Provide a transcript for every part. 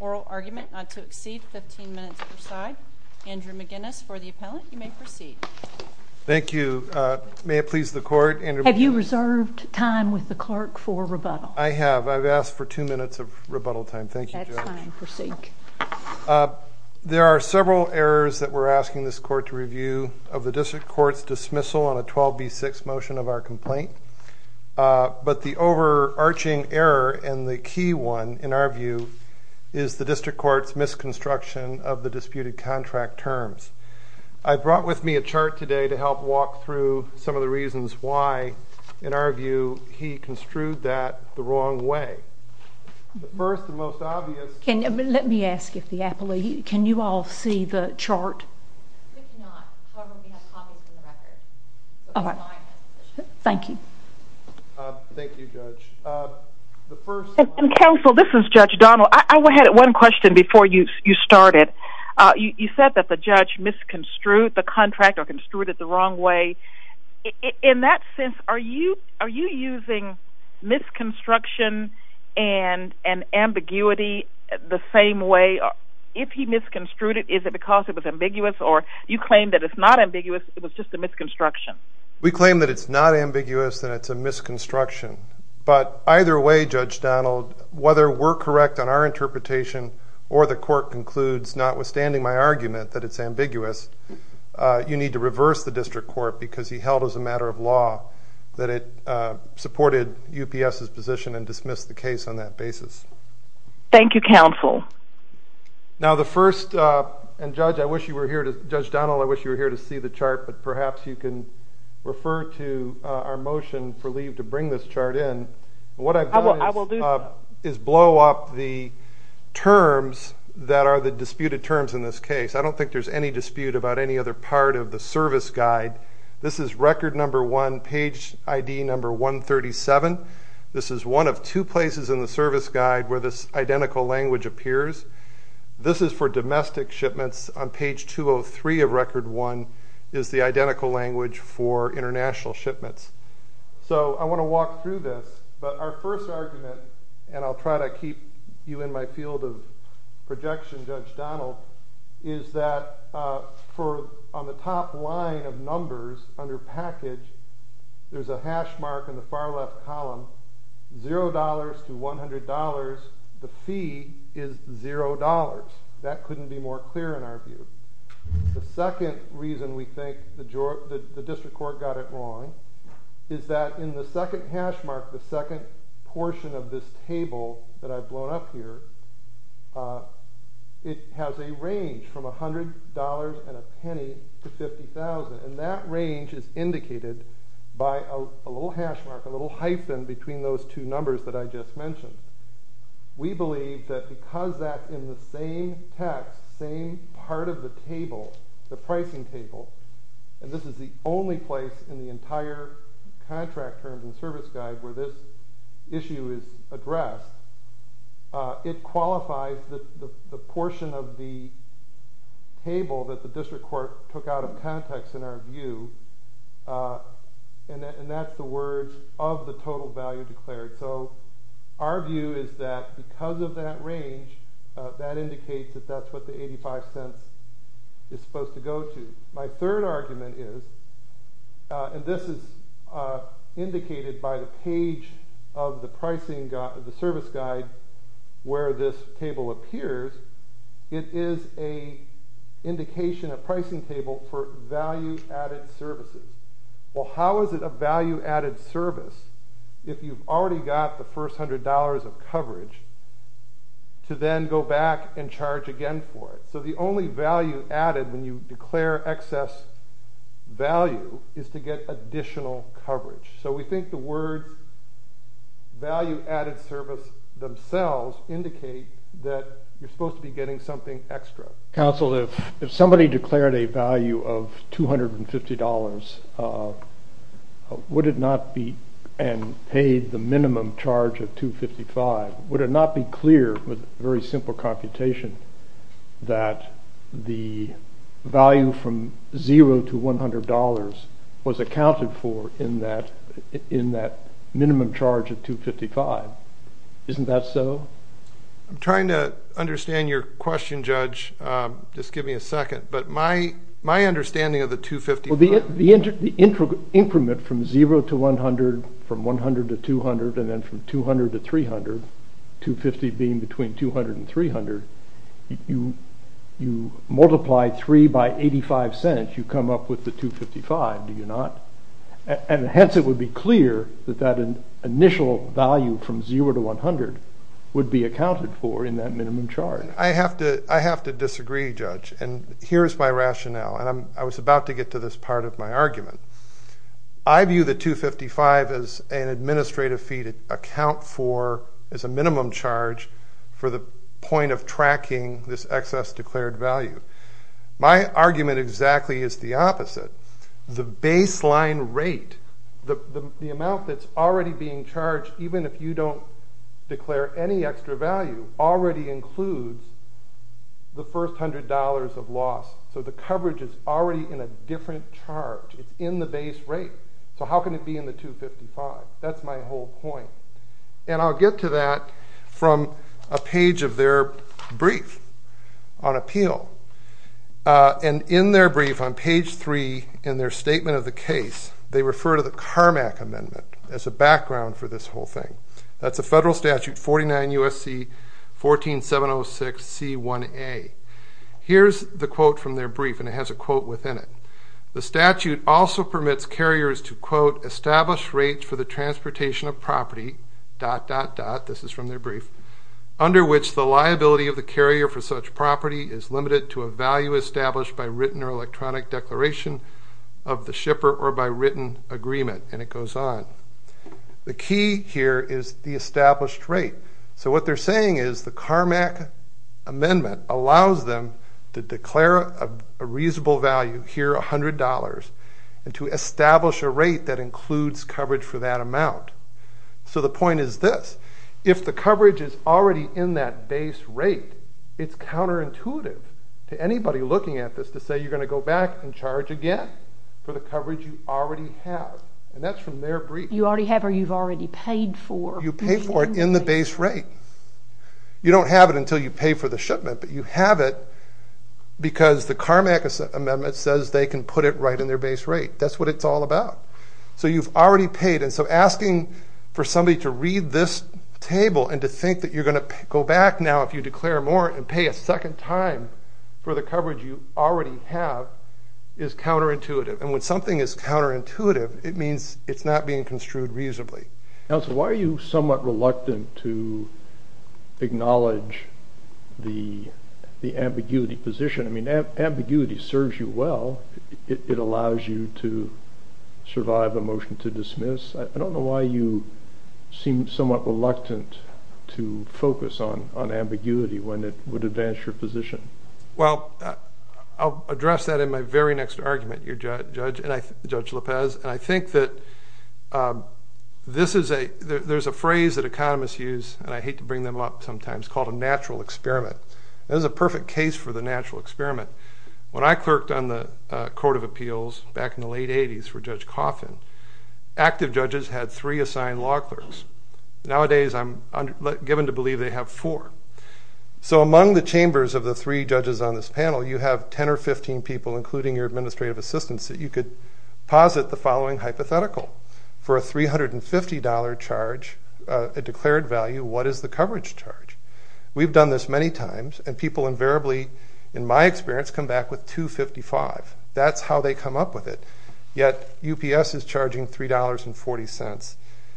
Oral argument not to exceed 15 minutes per side. Andrew McGinnis, for the appellant, you may proceed. Thank you. May it please the Court, Andrew McGinnis? Have you reserved time with the clerk for rebuttal? I have. I've asked for two minutes of rebuttal time. Thank you, Judge. That's fine. Proceed. There are several errors that we're asking this Court to review of the District Court's dismissal on a 12B6 motion of our complaint. But the overarching error and the key one, in our view, is the District Court's misconstruction of the disputed contract terms. I brought with me a chart today to help walk through some of the reasons why, in our view, he construed that the wrong way. First, the most obvious... Let me ask if the appellee... Can you all see the chart? We cannot. However, we have copies in the record. Thank you. Thank you, Judge. Counsel, this is Judge Donnell. I had one question before you started. You said that the judge misconstrued the contract or construed it the wrong way. In that sense, are you using misconstruction and ambiguity the same way? If he misconstrued it, is it because it was ambiguous or you claim that it's not ambiguous, it was just a misconstruction? We claim that it's not ambiguous and it's a misconstruction. But either way, Judge Donnell, whether we're correct on our interpretation or the Court concludes, notwithstanding my argument that it's ambiguous, you need to reverse the District Court because he held as a matter of law that it supported UPS's position and dismissed the case on that basis. Thank you, Counsel. Now, the first... And, Judge, I wish you were here to... Judge Donnell, I wish you were here to see the chart, but perhaps you can refer to our motion for leave to bring this chart in. What I've done is blow up the terms that are the disputed terms in this case. I don't think there's any dispute about any other part of the service guide. This is record number one, page ID number 137. This is one of two places in the service guide where this identical language appears. This is for domestic shipments. On page 203 of record one is the identical language for international shipments. So I want to walk through this. But our first argument, and I'll try to keep you in my field of projection, Judge Donnell, is that on the top line of numbers under package, there's a hash mark in the far left column, $0 to $100, the fee is $0. That couldn't be more clear in our view. The second reason we think the district court got it wrong is that in the second hash mark, the second portion of this table that I've blown up here, it has a range from $100 and a penny to $50,000. And that range is indicated by a little hash mark, a little hyphen between those two numbers that I just mentioned. We believe that because that in the same text, same part of the table, the pricing table, and this is the only place in the entire contract terms and service guide where this issue is addressed, it qualifies the portion of the table that the district court took out of context in our view, and that's the words of the total value declared. So our view is that because of that range, that indicates that that's what the $0.85 is supposed to go to. My third argument is, and this is indicated by the page of the service guide where this table appears, it is an indication, a pricing table for value-added services. Well, how is it a value-added service? If you've already got the first $100 of coverage to then go back and charge again for it. So the only value added when you declare excess value is to get additional coverage. So we think the words value-added service themselves indicate that you're supposed to be getting something extra. Counsel, if somebody declared a value of $250, would it not be and paid the minimum charge of $255? Would it not be clear with very simple computation that the value from $0 to $100 was accounted for in that minimum charge of $255? Isn't that so? I'm trying to understand your question, Judge. Just give me a second. But my understanding of the $255. Well, the increment from $0 to $100, from $100 to $200, and then from $200 to $300, $250 being between $200 and $300, you multiply 3 by $0.85, you come up with the $255, do you not? And hence it would be clear that that initial value from $0 to $100 would be accounted for in that minimum charge. I have to disagree, Judge, and here is my rationale, and I was about to get to this part of my argument. I view the $255 as an administrative fee to account for as a minimum charge for the point of tracking this excess declared value. My argument exactly is the opposite. The baseline rate, the amount that's already being charged, even if you don't declare any extra value, already includes the first $100 of loss. So the coverage is already in a different charge. It's in the base rate. So how can it be in the $255? That's my whole point. And I'll get to that from a page of their brief on appeal. And in their brief on page 3 in their statement of the case, they refer to the Carmack Amendment as a background for this whole thing. That's a federal statute, 49 U.S.C. 14706C1A. Here's the quote from their brief, and it has a quote within it. The statute also permits carriers to, quote, establish rates for the transportation of property, dot, dot, dot, this is from their brief, under which the liability of the carrier for such property is limited to a value established by written or electronic declaration of the shipper or by written agreement. And it goes on. The key here is the established rate. So what they're saying is the Carmack Amendment allows them to declare a reasonable value, here $100, and to establish a rate that includes coverage for that amount. So the point is this. If the coverage is already in that base rate, it's counterintuitive to anybody looking at this to say you're going to go back and charge again for the coverage you already have. And that's from their brief. You already have or you've already paid for. You pay for it in the base rate. You don't have it until you pay for the shipment, but you have it because the Carmack Amendment says they can put it right in their base rate. That's what it's all about. So you've already paid. And so asking for somebody to read this table and to think that you're going to go back now if you declare more and pay a second time for the coverage you already have is counterintuitive. And when something is counterintuitive, it means it's not being construed reasonably. Counsel, why are you somewhat reluctant to acknowledge the ambiguity position? I mean, ambiguity serves you well. It allows you to survive a motion to dismiss. I don't know why you seem somewhat reluctant to focus on ambiguity when it would advance your position. Well, I'll address that in my very next argument, Judge Lopez. And I think that there's a phrase that economists use, and I hate to bring them up sometimes, called a natural experiment. There's a perfect case for the natural experiment. When I clerked on the Court of Appeals back in the late 80s for Judge Coffin, active judges had three assigned law clerks. Nowadays, I'm given to believe they have four. So among the chambers of the three judges on this panel, you have 10 or 15 people, including your administrative assistants, that you could posit the following hypothetical. For a $350 charge, a declared value, what is the coverage charge? We've done this many times, and people invariably, in my experience, come back with $255. That's how they come up with it. Yet UPS is charging $3.40.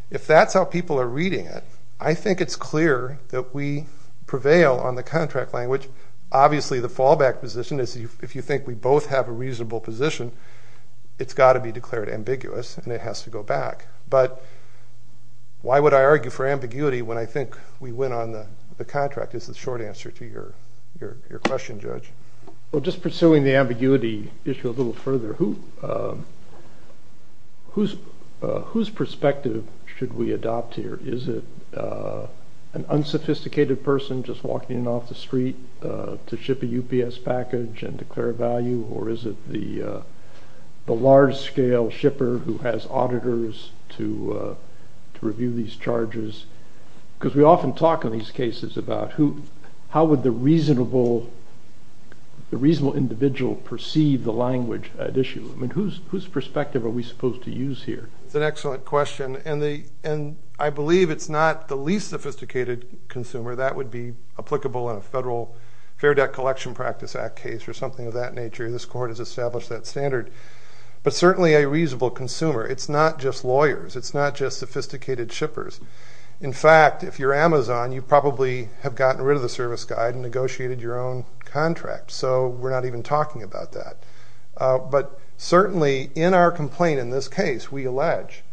If that's how people are reading it, I think it's clear that we prevail on the contract language. Obviously, the fallback position is if you think we both have a reasonable position, it's got to be declared ambiguous, and it has to go back. But why would I argue for ambiguity when I think we win on the contract is the short answer to your question, Judge. Well, just pursuing the ambiguity issue a little further, whose perspective should we adopt here? Is it an unsophisticated person just walking in off the street to ship a UPS package and declare a value, or is it the large-scale shipper who has auditors to review these charges? Because we often talk in these cases about how would the reasonable individual perceive the language at issue. I mean, whose perspective are we supposed to use here? That's an excellent question, and I believe it's not the least sophisticated consumer. That would be applicable in a federal Fair Debt Collection Practice Act case or something of that nature. This Court has established that standard. But certainly a reasonable consumer. It's not just lawyers. It's not just sophisticated shippers. In fact, if you're Amazon, you probably have gotten rid of the service guide and negotiated your own contract. So we're not even talking about that. But certainly in our complaint in this case, we allege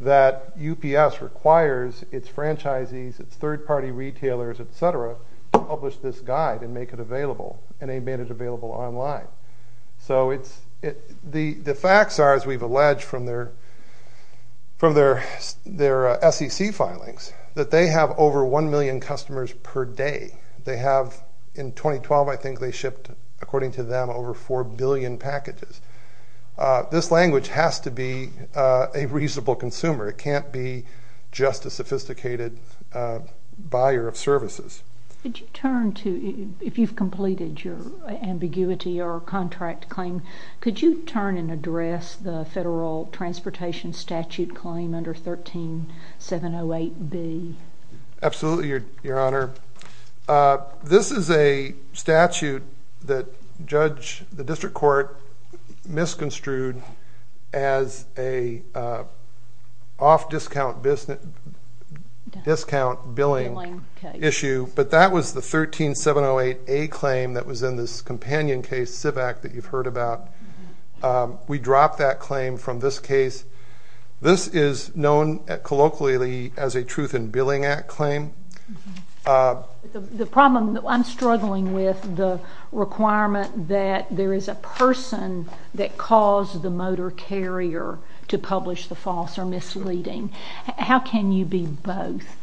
that UPS requires its franchisees, its third-party retailers, et cetera, to publish this guide and make it available, and they made it available online. So the facts are, as we've alleged from their SEC filings, that they have over 1 million customers per day. They have, in 2012 I think they shipped, according to them, over 4 billion packages. This language has to be a reasonable consumer. It can't be just a sophisticated buyer of services. Could you turn to, if you've completed your ambiguity or contract claim, could you turn and address the federal transportation statute claim under 13708B? Absolutely, Your Honor. This is a statute that the district court misconstrued as an off-discount billing issue. But that was the 13708A claim that was in this companion case, CIVAC, that you've heard about. We dropped that claim from this case. This is known colloquially as a Truth in Billing Act claim. The problem, I'm struggling with the requirement that there is a person that caused the motor carrier to publish the false or misleading. How can you be both?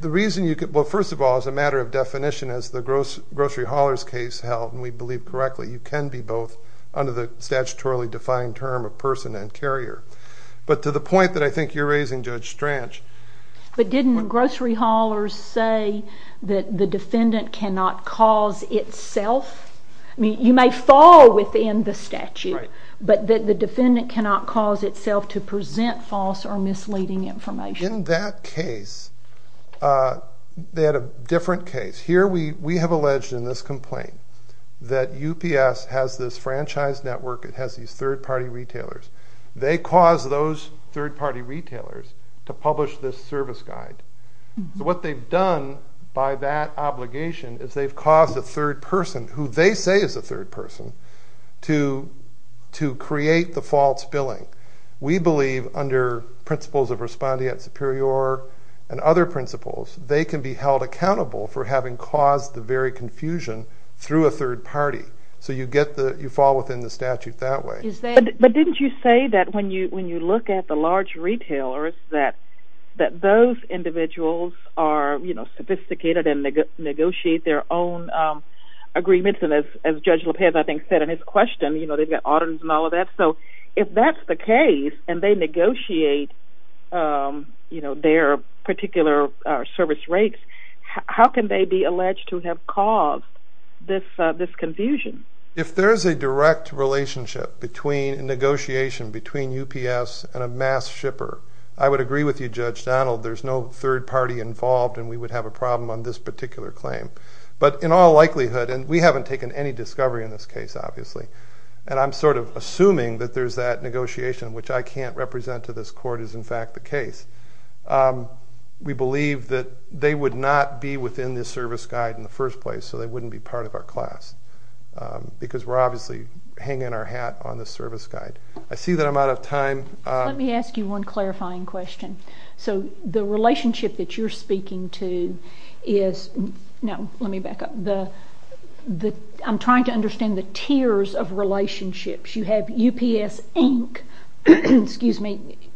The reason you could, well, first of all, as a matter of definition, as the grocery hauler's case held, and we believe correctly, you can be both under the statutorily defined term of person and carrier. But to the point that I think you're raising, Judge Strach. But didn't grocery haulers say that the defendant cannot cause itself? I mean, you may fall within the statute, but that the defendant cannot cause itself to present false or misleading information. In that case, they had a different case. Here we have alleged in this complaint that UPS has this franchise network. It has these third-party retailers. They caused those third-party retailers to publish this service guide. So what they've done by that obligation is they've caused a third person, who they say is a third person, to create the false billing. We believe under principles of respondeat superior and other principles, they can be held accountable for having caused the very confusion through a third party. So you fall within the statute that way. But didn't you say that when you look at the large retailers, that those individuals are sophisticated and negotiate their own agreements? And as Judge Lopez, I think, said in his question, they've got audits and all of that. So if that's the case, and they negotiate their particular service rates, how can they be alleged to have caused this confusion? If there's a direct relationship between negotiation between UPS and a mass shipper, I would agree with you, Judge Donald. There's no third party involved, and we would have a problem on this particular claim. But in all likelihood, and we haven't taken any discovery in this case, obviously. And I'm sort of assuming that there's that negotiation, which I can't represent to this court, is in fact the case. We believe that they would not be within this service guide in the first place, so they wouldn't be part of our class. Because we're obviously hanging our hat on the service guide. I see that I'm out of time. Let me ask you one clarifying question. So the relationship that you're speaking to is... No, let me back up. I'm trying to understand the tiers of relationships. You have UPS, Inc.,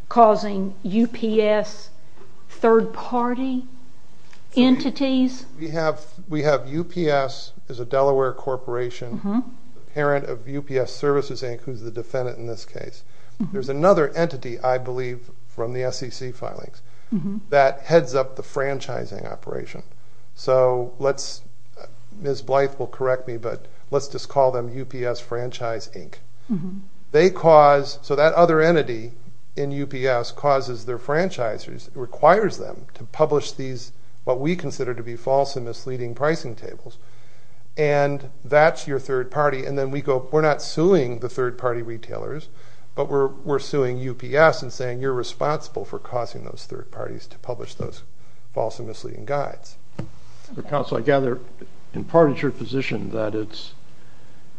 causing UPS third party entities. We have UPS as a Delaware corporation, parent of UPS Services, Inc., who's the defendant in this case. There's another entity, I believe, from the SEC filings, that heads up the franchising operation. So let's... Ms. Blythe will correct me, but let's just call them UPS Franchise, Inc. They cause... So that other entity in UPS causes their franchisers, requires them to publish these, what we consider to be false and misleading pricing tables. And that's your third party. And then we go, we're not suing the third party retailers, but we're suing UPS and saying you're responsible for causing those third parties to publish those false and misleading guides. Council, I gather, in part, it's your position that it's...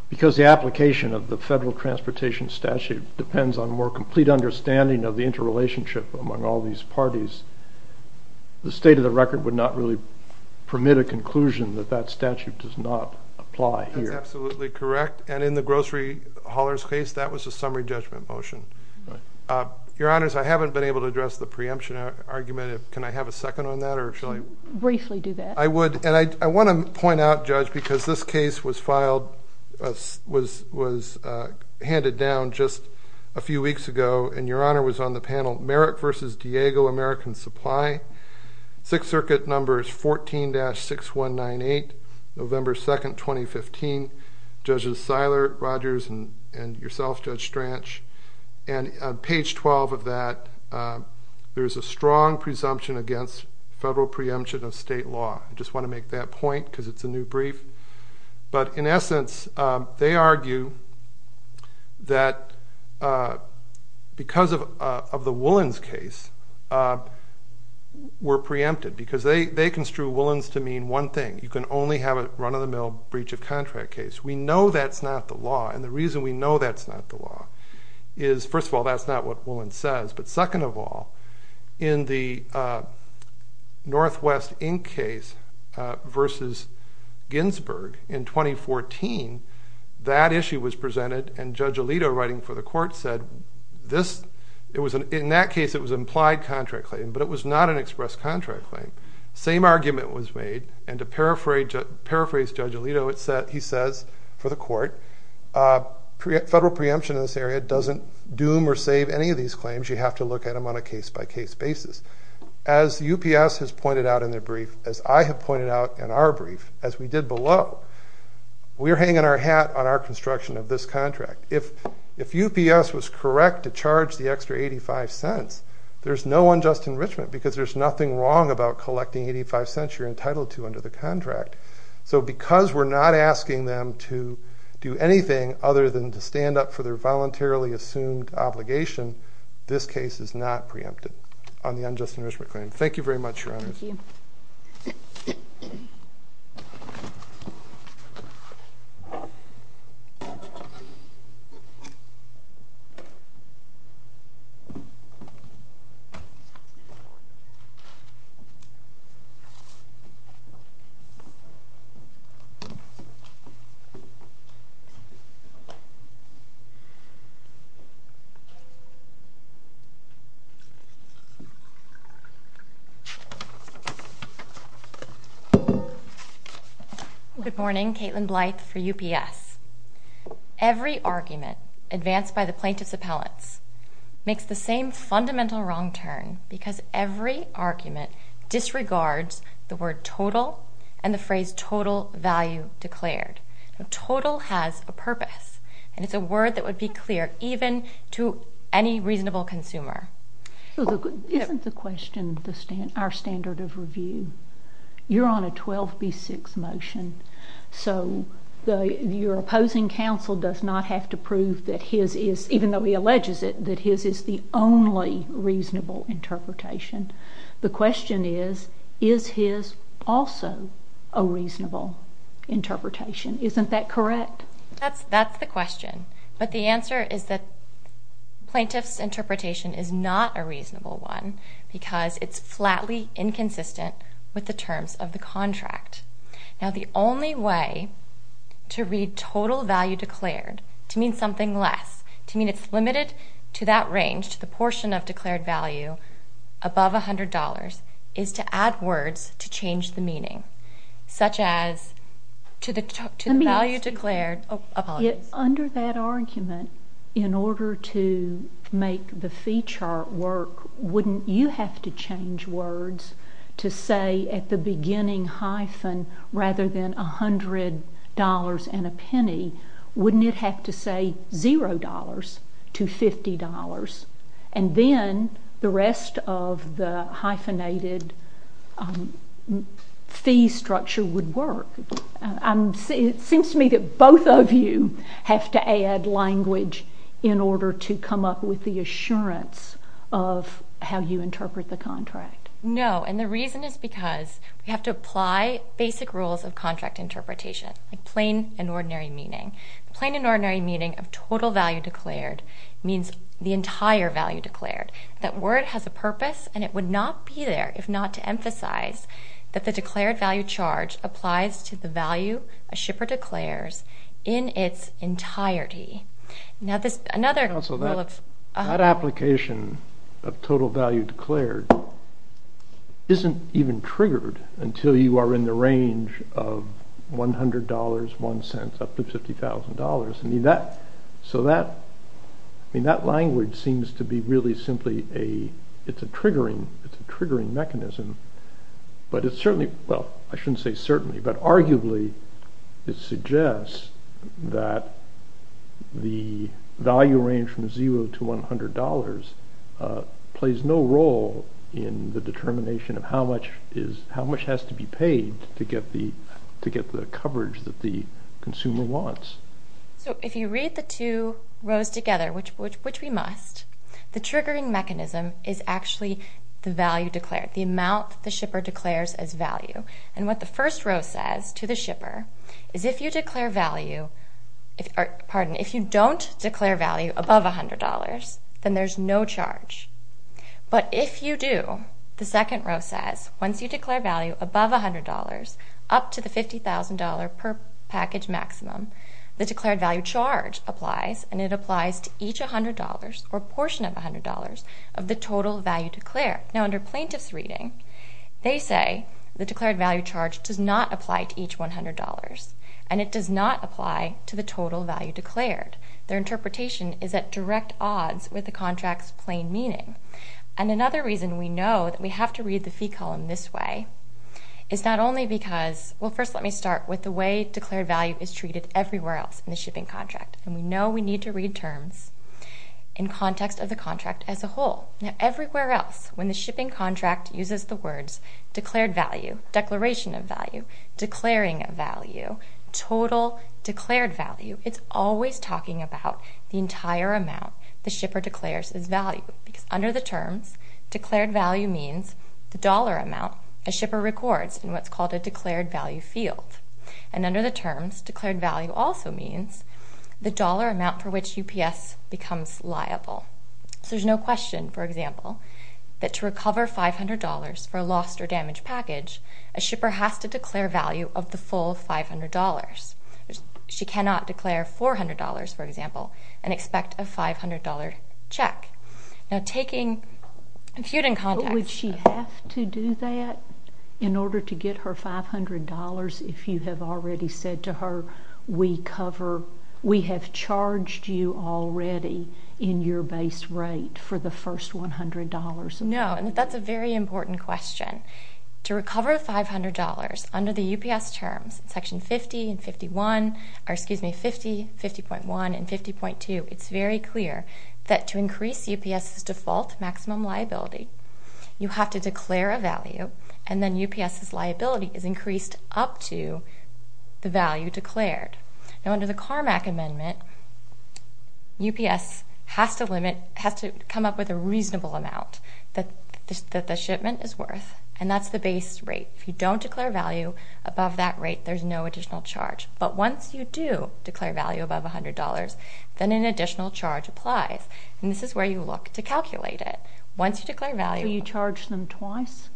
Because the application of the federal transportation statute depends on more complete understanding of the interrelationship among all these parties, the state of the record would not really permit a conclusion that that statute does not apply here. Absolutely correct. And in the grocery hauler's case, that was a summary judgment motion. Your Honors, I haven't been able to address the preemption argument. Can I have a second on that, or shall I... Briefly do that. I would. And I want to point out, Judge, because this case was filed, was handed down just a few weeks ago, and Your Honor was on the panel, Merritt v. Diego, American Supply, Sixth Circuit Numbers 14-6198, November 2nd, 2015. Judges Seiler, Rogers, and yourself, Judge Strach. And on page 12 of that, there's a strong presumption against federal preemption of state law. I just want to make that point because it's a new brief. But in essence, they argue that because of the Willans case, we're preempted because they construe Willans to mean one thing. You can only have a run-of-the-mill breach of contract case. We know that's not the law, and the reason we know that's not the law is, first of all, that's not what Willans says. But second of all, in the Northwest Inc. case versus Ginsburg in 2014, that issue was presented, and Judge Alito, writing for the court, said, in that case, it was an implied contract claim, but it was not an expressed contract claim. Same argument was made, and to paraphrase Judge Alito, he says, for the court, federal preemption in this area doesn't doom or save any of these claims. You have to look at them on a case-by-case basis. As UPS has pointed out in their brief, as I have pointed out in our brief, as we did below, we're hanging our hat on our construction of this contract. If UPS was correct to charge the extra 85 cents, there's no unjust enrichment because there's nothing wrong about collecting 85 cents you're entitled to under the contract. So because we're not asking them to do anything other than to stand up for their voluntarily assumed obligation, this case is not preempted on the unjust enrichment claim. Thank you very much, Your Honors. Thank you. Thank you. Good morning. Caitlin Blythe for UPS. Every argument advanced by the plaintiff's appellants makes the same fundamental wrong turn because every argument disregards the word total and the phrase total value declared. Total has a purpose, and it's a word that would be clear even to any reasonable consumer. Isn't the question our standard of review? You're on a 12B6 motion, so your opposing counsel does not have to prove that his is, even though he alleges it, that his is the only reasonable interpretation. The question is, is his also a reasonable interpretation? Isn't that correct? That's the question. But the answer is that plaintiff's interpretation is not a reasonable one because it's flatly inconsistent with the terms of the contract. Now, the only way to read total value declared to mean something less, to mean it's limited to that range, to the portion of declared value above $100, is to add words to change the meaning, such as to the value declared. Under that argument, in order to make the fee chart work, wouldn't you have to change words to say at the beginning hyphen, rather than $100 and a penny, wouldn't it have to say $0 to $50? And then the rest of the hyphenated fee structure would work. It seems to me that both of you have to add language in order to come up with the assurance of how you interpret the contract. No, and the reason is because we have to apply basic rules of contract interpretation, like plain and ordinary meaning. Plain and ordinary meaning of total value declared means the entire value declared. That word has a purpose, and it would not be there if not to emphasize that the declared value charge applies to the value a shipper declares in its entirety. That application of total value declared isn't even triggered until you are in the range of $100, one cent, up to $50,000. That language seems to be really simply a triggering mechanism. Well, I shouldn't say certainly, but arguably it suggests that the value range from $0 to $100 plays no role in the determination of how much has to be paid to get the coverage that the consumer wants. So if you read the two rows together, which we must, the triggering mechanism is actually the value declared, the amount the shipper declares as value. What the first row says to the shipper is if you don't declare value above $100, then there's no charge. But if you do, the second row says once you declare value above $100, up to the $50,000 per package maximum, the declared value charge applies, and it applies to each $100 or portion of $100 of the total value declared. Now, under plaintiff's reading, they say the declared value charge does not apply to each $100, and it does not apply to the total value declared. Their interpretation is at direct odds with the contract's plain meaning. And another reason we know that we have to read the fee column this way is not only because, well, first let me start with the way declared value is treated everywhere else in the shipping contract, and we know we need to read terms in context of the contract as a whole. Now, everywhere else when the shipping contract uses the words declared value, declaration of value, declaring value, total declared value, it's always talking about the entire amount the shipper declares as value because under the terms, declared value means the dollar amount a shipper records in what's called a declared value field. And under the terms, declared value also means the dollar amount for which UPS becomes liable. So there's no question, for example, that to recover $500 for a lost or damaged package, a shipper has to declare value of the full $500. She cannot declare $400, for example, and expect a $500 check. Now, taking feud in context... Would she have to do that in order to get her $500 if you have already said to her, we have charged you already in your base rate for the first $100? No, and that's a very important question. To recover $500 under the UPS terms, Section 50.1 and 50.2, it's very clear that to increase UPS's default maximum liability, you have to declare a value, and then UPS's liability is increased up to the value declared. Now, under the CARMAC amendment, UPS has to come up with a reasonable amount that the shipment is worth, and that's the base rate. If you don't declare value above that rate, there's no additional charge. But once you do declare value above $100, then an additional charge applies. And this is where you look to calculate it. Once you declare value... Do you charge them twice?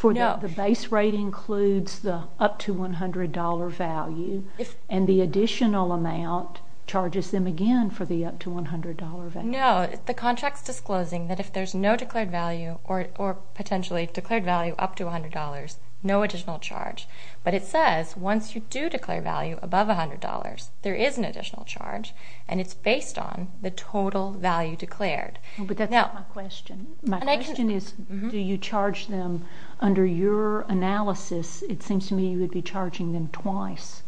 The base rate includes the up to $100 value, and the additional amount charges them again for the up to $100 value. No, the contract's disclosing that if there's no declared value or potentially declared value up to $100, no additional charge. But it says once you do declare value above $100, there is an additional charge, and it's based on the total value declared. But that's not my question. My question is, do you charge them under your analysis? It seems to me you would be charging them twice,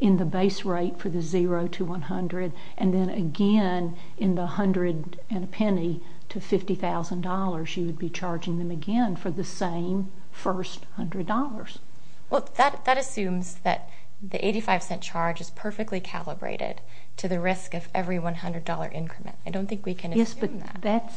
in the base rate for the zero to $100, and then again in the hundred and a penny to $50,000. You would be charging them again for the same first $100. Well, that assumes that the $0.85 charge is perfectly calibrated to the risk of every $100 increment. I don't think we can assume that.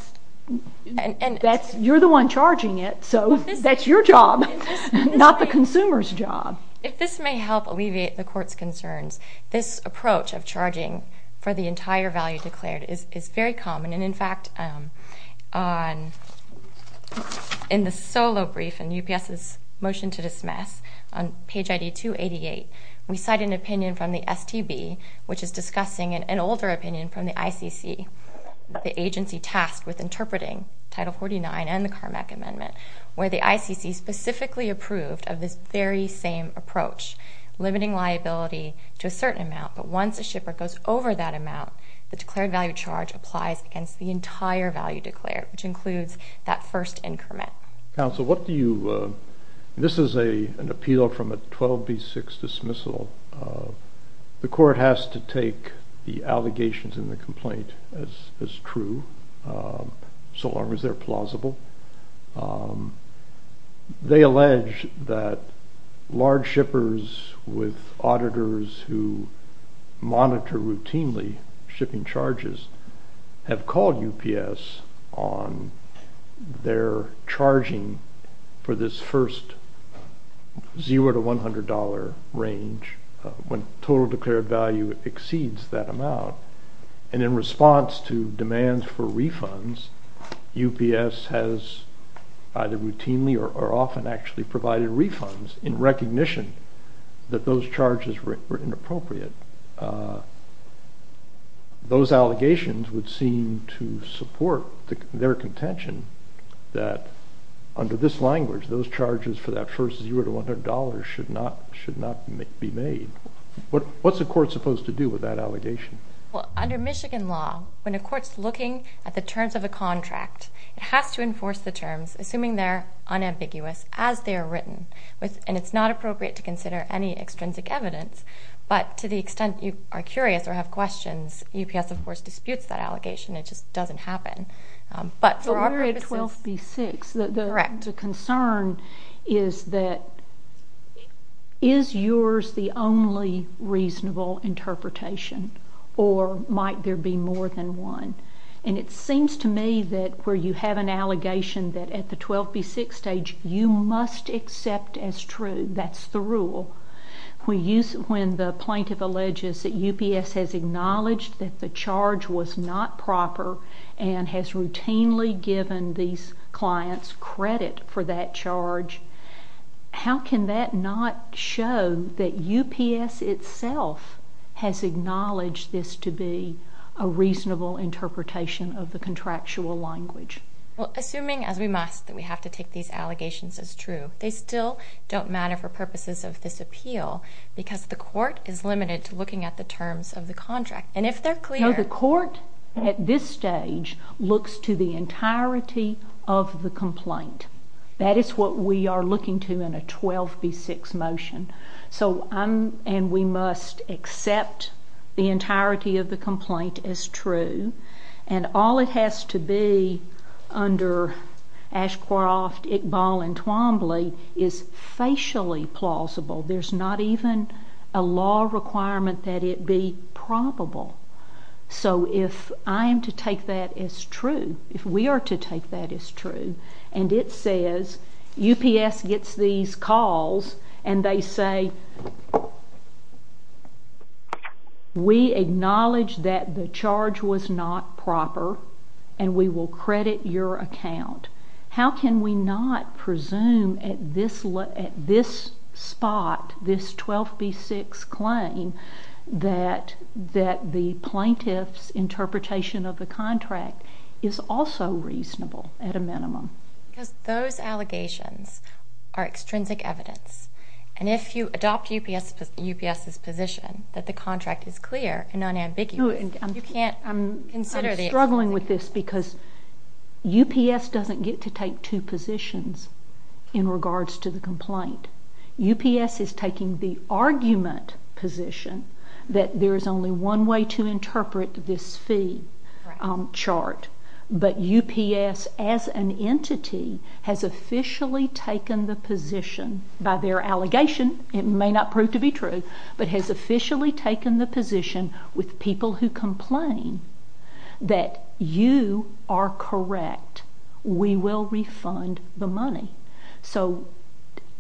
You're the one charging it, so that's your job, not the consumer's job. If this may help alleviate the Court's concerns, this approach of charging for the entire value declared is very common. In fact, in the solo brief in UPS's motion to dismiss, on page ID 288, we cite an opinion from the STB, which is discussing an older opinion from the ICC. The agency tasked with interpreting Title 49 and the CARMEC Amendment, where the ICC specifically approved of this very same approach, limiting liability to a certain amount. But once a shipper goes over that amount, the declared value charge applies against the entire value declared, which includes that first increment. Counsel, what do you—this is an appeal from a 12b6 dismissal. The Court has to take the allegations in the complaint as true, so long as they're plausible. They allege that large shippers with auditors who monitor routinely shipping charges have called UPS on their charging for this first $0 to $100 range when total declared value exceeds that amount. And in response to demands for refunds, UPS has either routinely or often actually provided refunds in recognition that those charges were inappropriate. Those allegations would seem to support their contention that under this language, those charges for that first $0 to $100 should not be made. What's a court supposed to do with that allegation? Well, under Michigan law, when a court's looking at the terms of a contract, it has to enforce the terms, assuming they're unambiguous as they are written. And it's not appropriate to consider any extrinsic evidence, but to the extent you are curious or have questions, UPS, of course, disputes that allegation. It just doesn't happen. But for our purposes... But we're at 12b6. Correct. The concern is that is yours the only reasonable interpretation or might there be more than one? And it seems to me that where you have an allegation that at the 12b6 stage you must accept as true, that's the rule, when the plaintiff alleges that UPS has acknowledged that the charge was not proper and has routinely given these clients credit for that charge, how can that not show that UPS itself has acknowledged this to be a reasonable interpretation of the contractual language? Well, assuming as we must that we have to take these allegations as true, they still don't matter for purposes of this appeal because the court is limited to looking at the terms of the contract. And if they're clear... No, the court at this stage looks to the entirety of the complaint. That is what we are looking to in a 12b6 motion. And we must accept the entirety of the complaint as true. And all it has to be under Ashcroft, Iqbal, and Twombly is facially plausible. There's not even a law requirement that it be probable. So if I am to take that as true, if we are to take that as true, and it says UPS gets these calls and they say, we acknowledge that the charge was not proper and we will credit your account, how can we not presume at this spot, this 12b6 claim, that the plaintiff's interpretation of the contract is also reasonable at a minimum? Because those allegations are extrinsic evidence. And if you adopt UPS's position that the contract is clear and unambiguous, you can't consider the extrinsic evidence. I'm struggling with this because UPS doesn't get to take two positions in regards to the complaint. UPS is taking the argument position that there is only one way to interpret this fee chart. But UPS as an entity has officially taken the position, by their allegation it may not prove to be true, but has officially taken the position with people who complain that you are correct, we will refund the money. So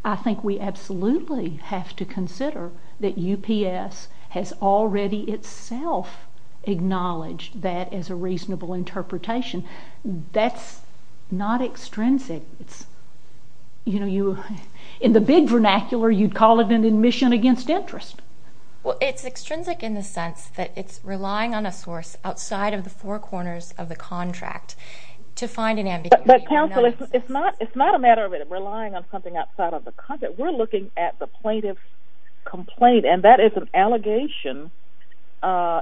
I think we absolutely have to consider that UPS has already itself acknowledged that as a reasonable interpretation. That's not extrinsic. In the big vernacular, you'd call it an admission against interest. Well, it's extrinsic in the sense that it's relying on a source outside of the four corners of the contract to find an ambiguity. But counsel, it's not a matter of it relying on something outside of the contract. We're looking at the plaintiff's complaint, and that is an allegation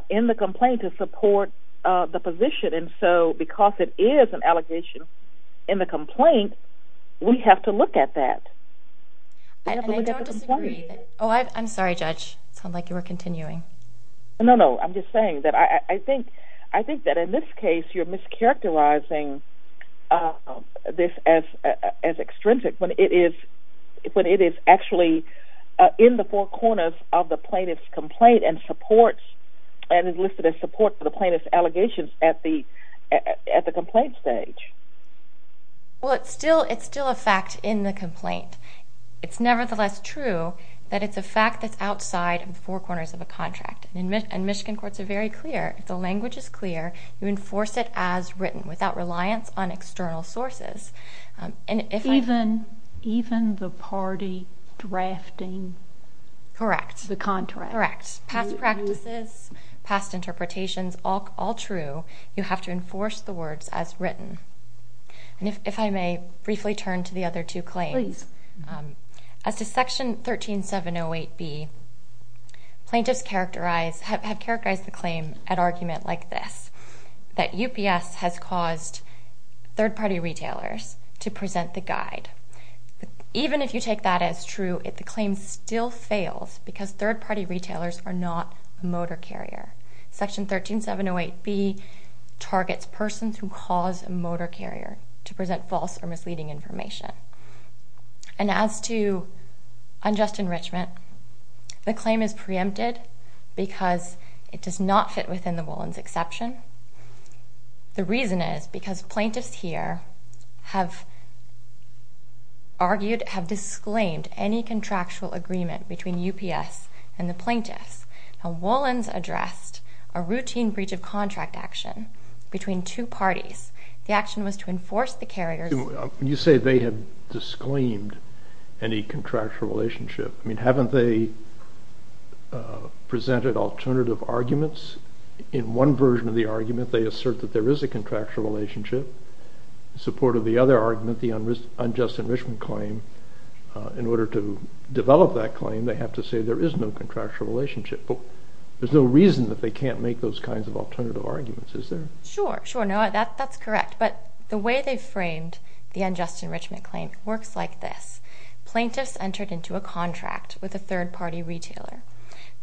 in the complaint to support the position. And so because it is an allegation in the complaint, we have to look at that. And I don't disagree. Oh, I'm sorry, Judge. It sounded like you were continuing. No, no, I'm just saying that I think that in this case, you're mischaracterizing this as extrinsic when it is actually in the four corners of the plaintiff's complaint and listed as support for the plaintiff's allegations at the complaint stage. Well, it's still a fact in the complaint. It's nevertheless true that it's a fact that's outside the four corners of a contract. And Michigan courts are very clear. The language is clear. You enforce it as written without reliance on external sources. Even the party drafting the contract? Correct. Past practices, past interpretations, all true. You have to enforce the words as written. And if I may briefly turn to the other two claims. Please. As to Section 13708B, plaintiffs have characterized the claim at argument like this, that UPS has caused third-party retailers to present the guide. Even if you take that as true, the claim still fails because third-party retailers are not a motor carrier. Section 13708B targets persons who cause a motor carrier to present false or misleading information. And as to unjust enrichment, the claim is preempted because it does not fit within the Wollon's exception. The reason is because plaintiffs here have argued, have disclaimed any contractual agreement between UPS and the plaintiffs. Now, Wollon's addressed a routine breach of contract action between two parties. The action was to enforce the carrier's... You say they have disclaimed any contractual relationship. I mean, haven't they presented alternative arguments? In one version of the argument, they assert that there is a contractual relationship. In support of the other argument, the unjust enrichment claim, in order to develop that claim, they have to say there is no contractual relationship. But there's no reason that they can't make those kinds of alternative arguments, is there? Sure, sure. No, that's correct. But the way they framed the unjust enrichment claim works like this. Plaintiffs entered into a contract with a third-party retailer.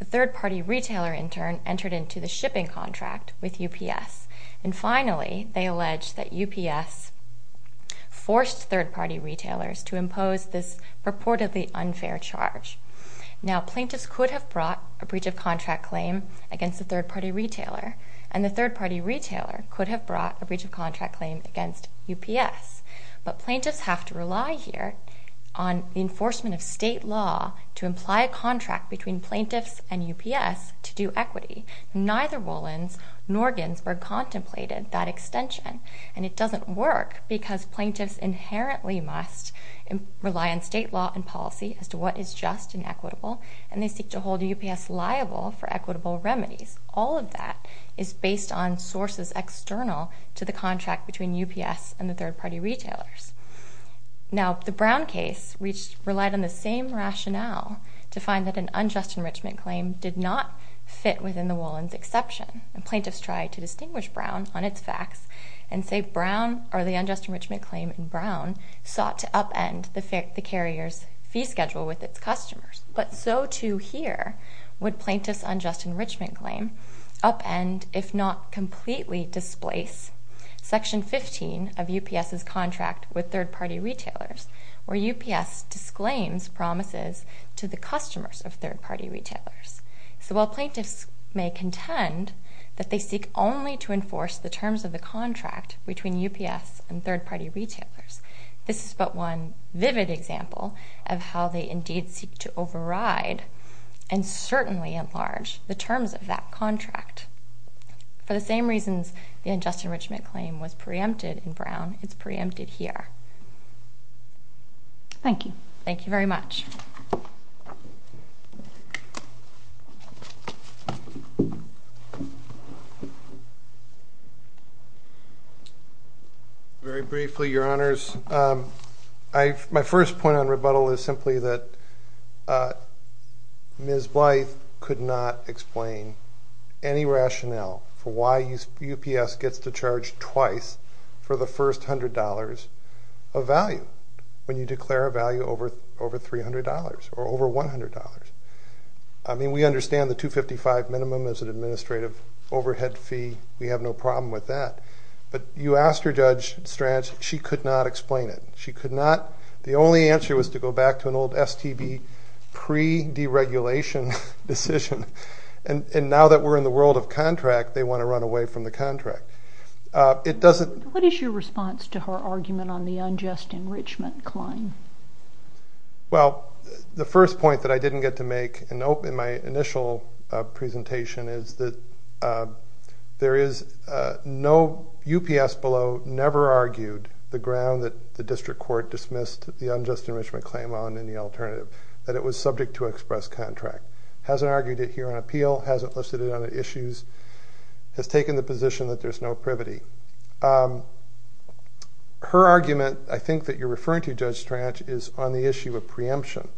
The third-party retailer, in turn, entered into the shipping contract with UPS. And finally, they allege that UPS forced third-party retailers to impose this purportedly unfair charge. Now, plaintiffs could have brought a breach of contract claim against the third-party retailer, and the third-party retailer could have brought a breach of contract claim against UPS. But plaintiffs have to rely here on the enforcement of state law to imply a contract between plaintiffs and UPS to do equity. Neither Wollon's nor Ginsburg contemplated that extension. And it doesn't work, because plaintiffs inherently must rely on state law and policy as to what is just and equitable, and they seek to hold UPS liable for equitable remedies. All of that is based on sources external to the contract between UPS and the third-party retailers. Now, the Brown case relied on the same rationale to find that an unjust enrichment claim did not fit within the Wollon's exception. And plaintiffs tried to distinguish Brown on its facts and say Brown or the unjust enrichment claim in Brown sought to upend the carrier's fee schedule with its customers. But so too here would plaintiff's unjust enrichment claim upend, if not completely displace, Section 15 of UPS's contract with third-party retailers, where UPS disclaims promises to the customers of third-party retailers. So while plaintiffs may contend that they seek only to enforce the terms of the contract between UPS and third-party retailers, this is but one vivid example of how they indeed seek to override and certainly enlarge the terms of that contract. For the same reasons the unjust enrichment claim was preempted in Brown, it's preempted here. Thank you. Thank you very much. Thank you. Very briefly, Your Honors, my first point on rebuttal is simply that Ms. Blythe could not explain any rationale for why UPS gets to charge twice for the first $100 of value when you declare a value over $300 or over $100. I mean, we understand the $255 minimum as an administrative overhead fee. We have no problem with that. But you asked her, Judge Strach, she could not explain it. She could not. The only answer was to go back to an old STB pre-deregulation decision. And now that we're in the world of contract, they want to run away from the contract. What is your response to her argument on the unjust enrichment claim? Well, the first point that I didn't get to make in my initial presentation is that there is no UPS below never argued the ground that the District Court dismissed the unjust enrichment claim on in the alternative, that it was subject to express contract. Hasn't argued it here on appeal. Hasn't listed it on the issues. Has taken the position that there's no privity. Her argument, I think, that you're referring to, Judge Strach, is on the issue of preemption.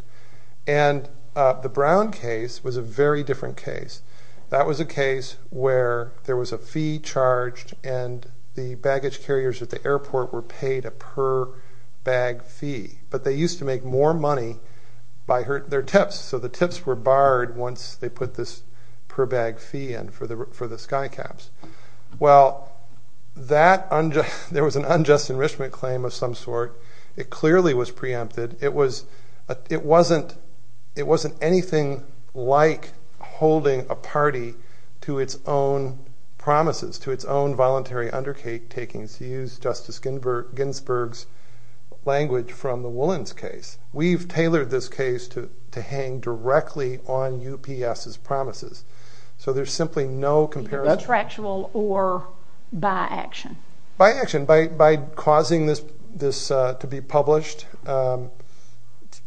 And the Brown case was a very different case. That was a case where there was a fee charged and the baggage carriers at the airport were paid a per-bag fee. But they used to make more money by their tips. So the tips were barred once they put this per-bag fee in for the sky caps. Well, there was an unjust enrichment claim of some sort. It clearly was preempted. It wasn't anything like holding a party to its own promises, to its own voluntary undertakings, to use Justice Ginsburg's language from the Woolens case. We've tailored this case to hang directly on UPS's promises. So there's simply no comparison. That's factual or by action. By action, by causing this to be published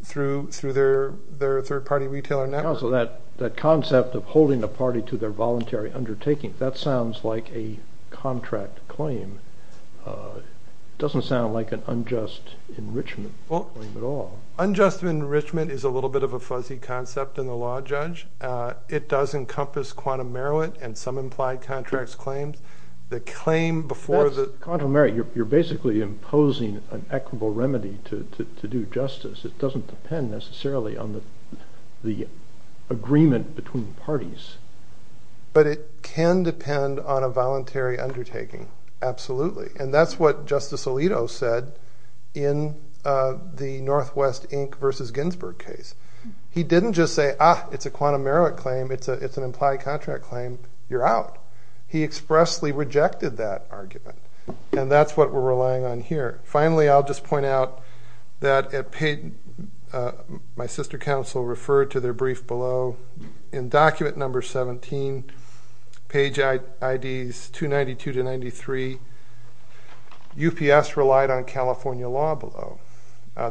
through their third-party retailer network. Counsel, that concept of holding a party to their voluntary undertaking, that sounds like a contract claim. It doesn't sound like an unjust enrichment claim at all. Unjust enrichment is a little bit of a fuzzy concept in the law, Judge. It does encompass quantum merit and some implied contracts claims. Quantum merit, you're basically imposing an equitable remedy to do justice. It doesn't depend necessarily on the agreement between parties. But it can depend on a voluntary undertaking, absolutely. And that's what Justice Alito said in the Northwest Inc. v. Ginsburg case. He didn't just say, ah, it's a quantum merit claim, it's an implied contract claim, you're out. He expressly rejected that argument. And that's what we're relying on here. Finally, I'll just point out that my sister counsel referred to their brief below. In document number 17, page IDs 292-93, UPS relied on California law below.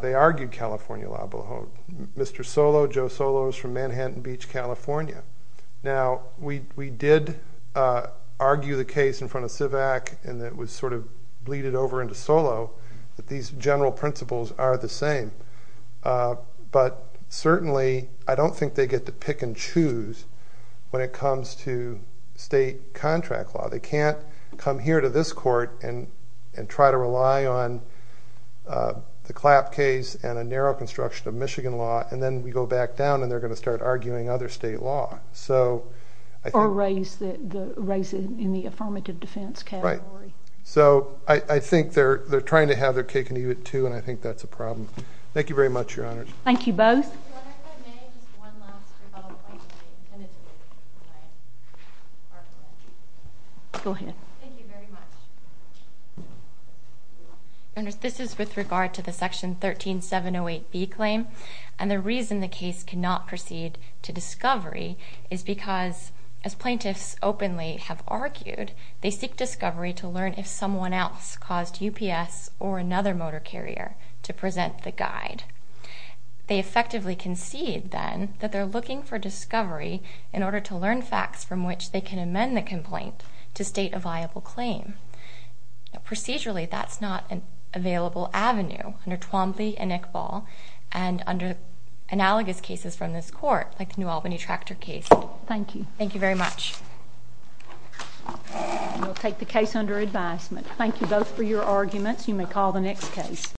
They argued California law below. Mr. Solow, Joe Solow, is from Manhattan Beach, California. Now, we did argue the case in front of CIVAC, and it was sort of bleeded over into Solow, that these general principles are the same. But certainly, I don't think they get to pick and choose when it comes to state contract law. They can't come here to this court and try to rely on the CLAP case and a narrow construction of Michigan law, and then we go back down and they're going to start arguing other state law. Or raise it in the affirmative defense category. Right. So I think they're trying to have their cake and eat it, too, and I think that's a problem. Thank you very much, Your Honors. Thank you both. Your Honor, if I may, just one last rebuttal point. Go ahead. Thank you very much. Your Honors, this is with regard to the Section 13708B claim, and the reason the case cannot proceed to discovery is because, as plaintiffs openly have argued, they seek discovery to learn if someone else caused UPS or another motor carrier to present the guide. They effectively concede, then, that they're looking for discovery in order to learn facts from which they can amend the complaint to state a viable claim. Procedurally, that's not an available avenue under Twombly and Iqbal and under analogous cases from this court, like the New Albany tractor case. Thank you. Thank you very much. We'll take the case under advisement. Thank you both for your arguments. You may call the next case.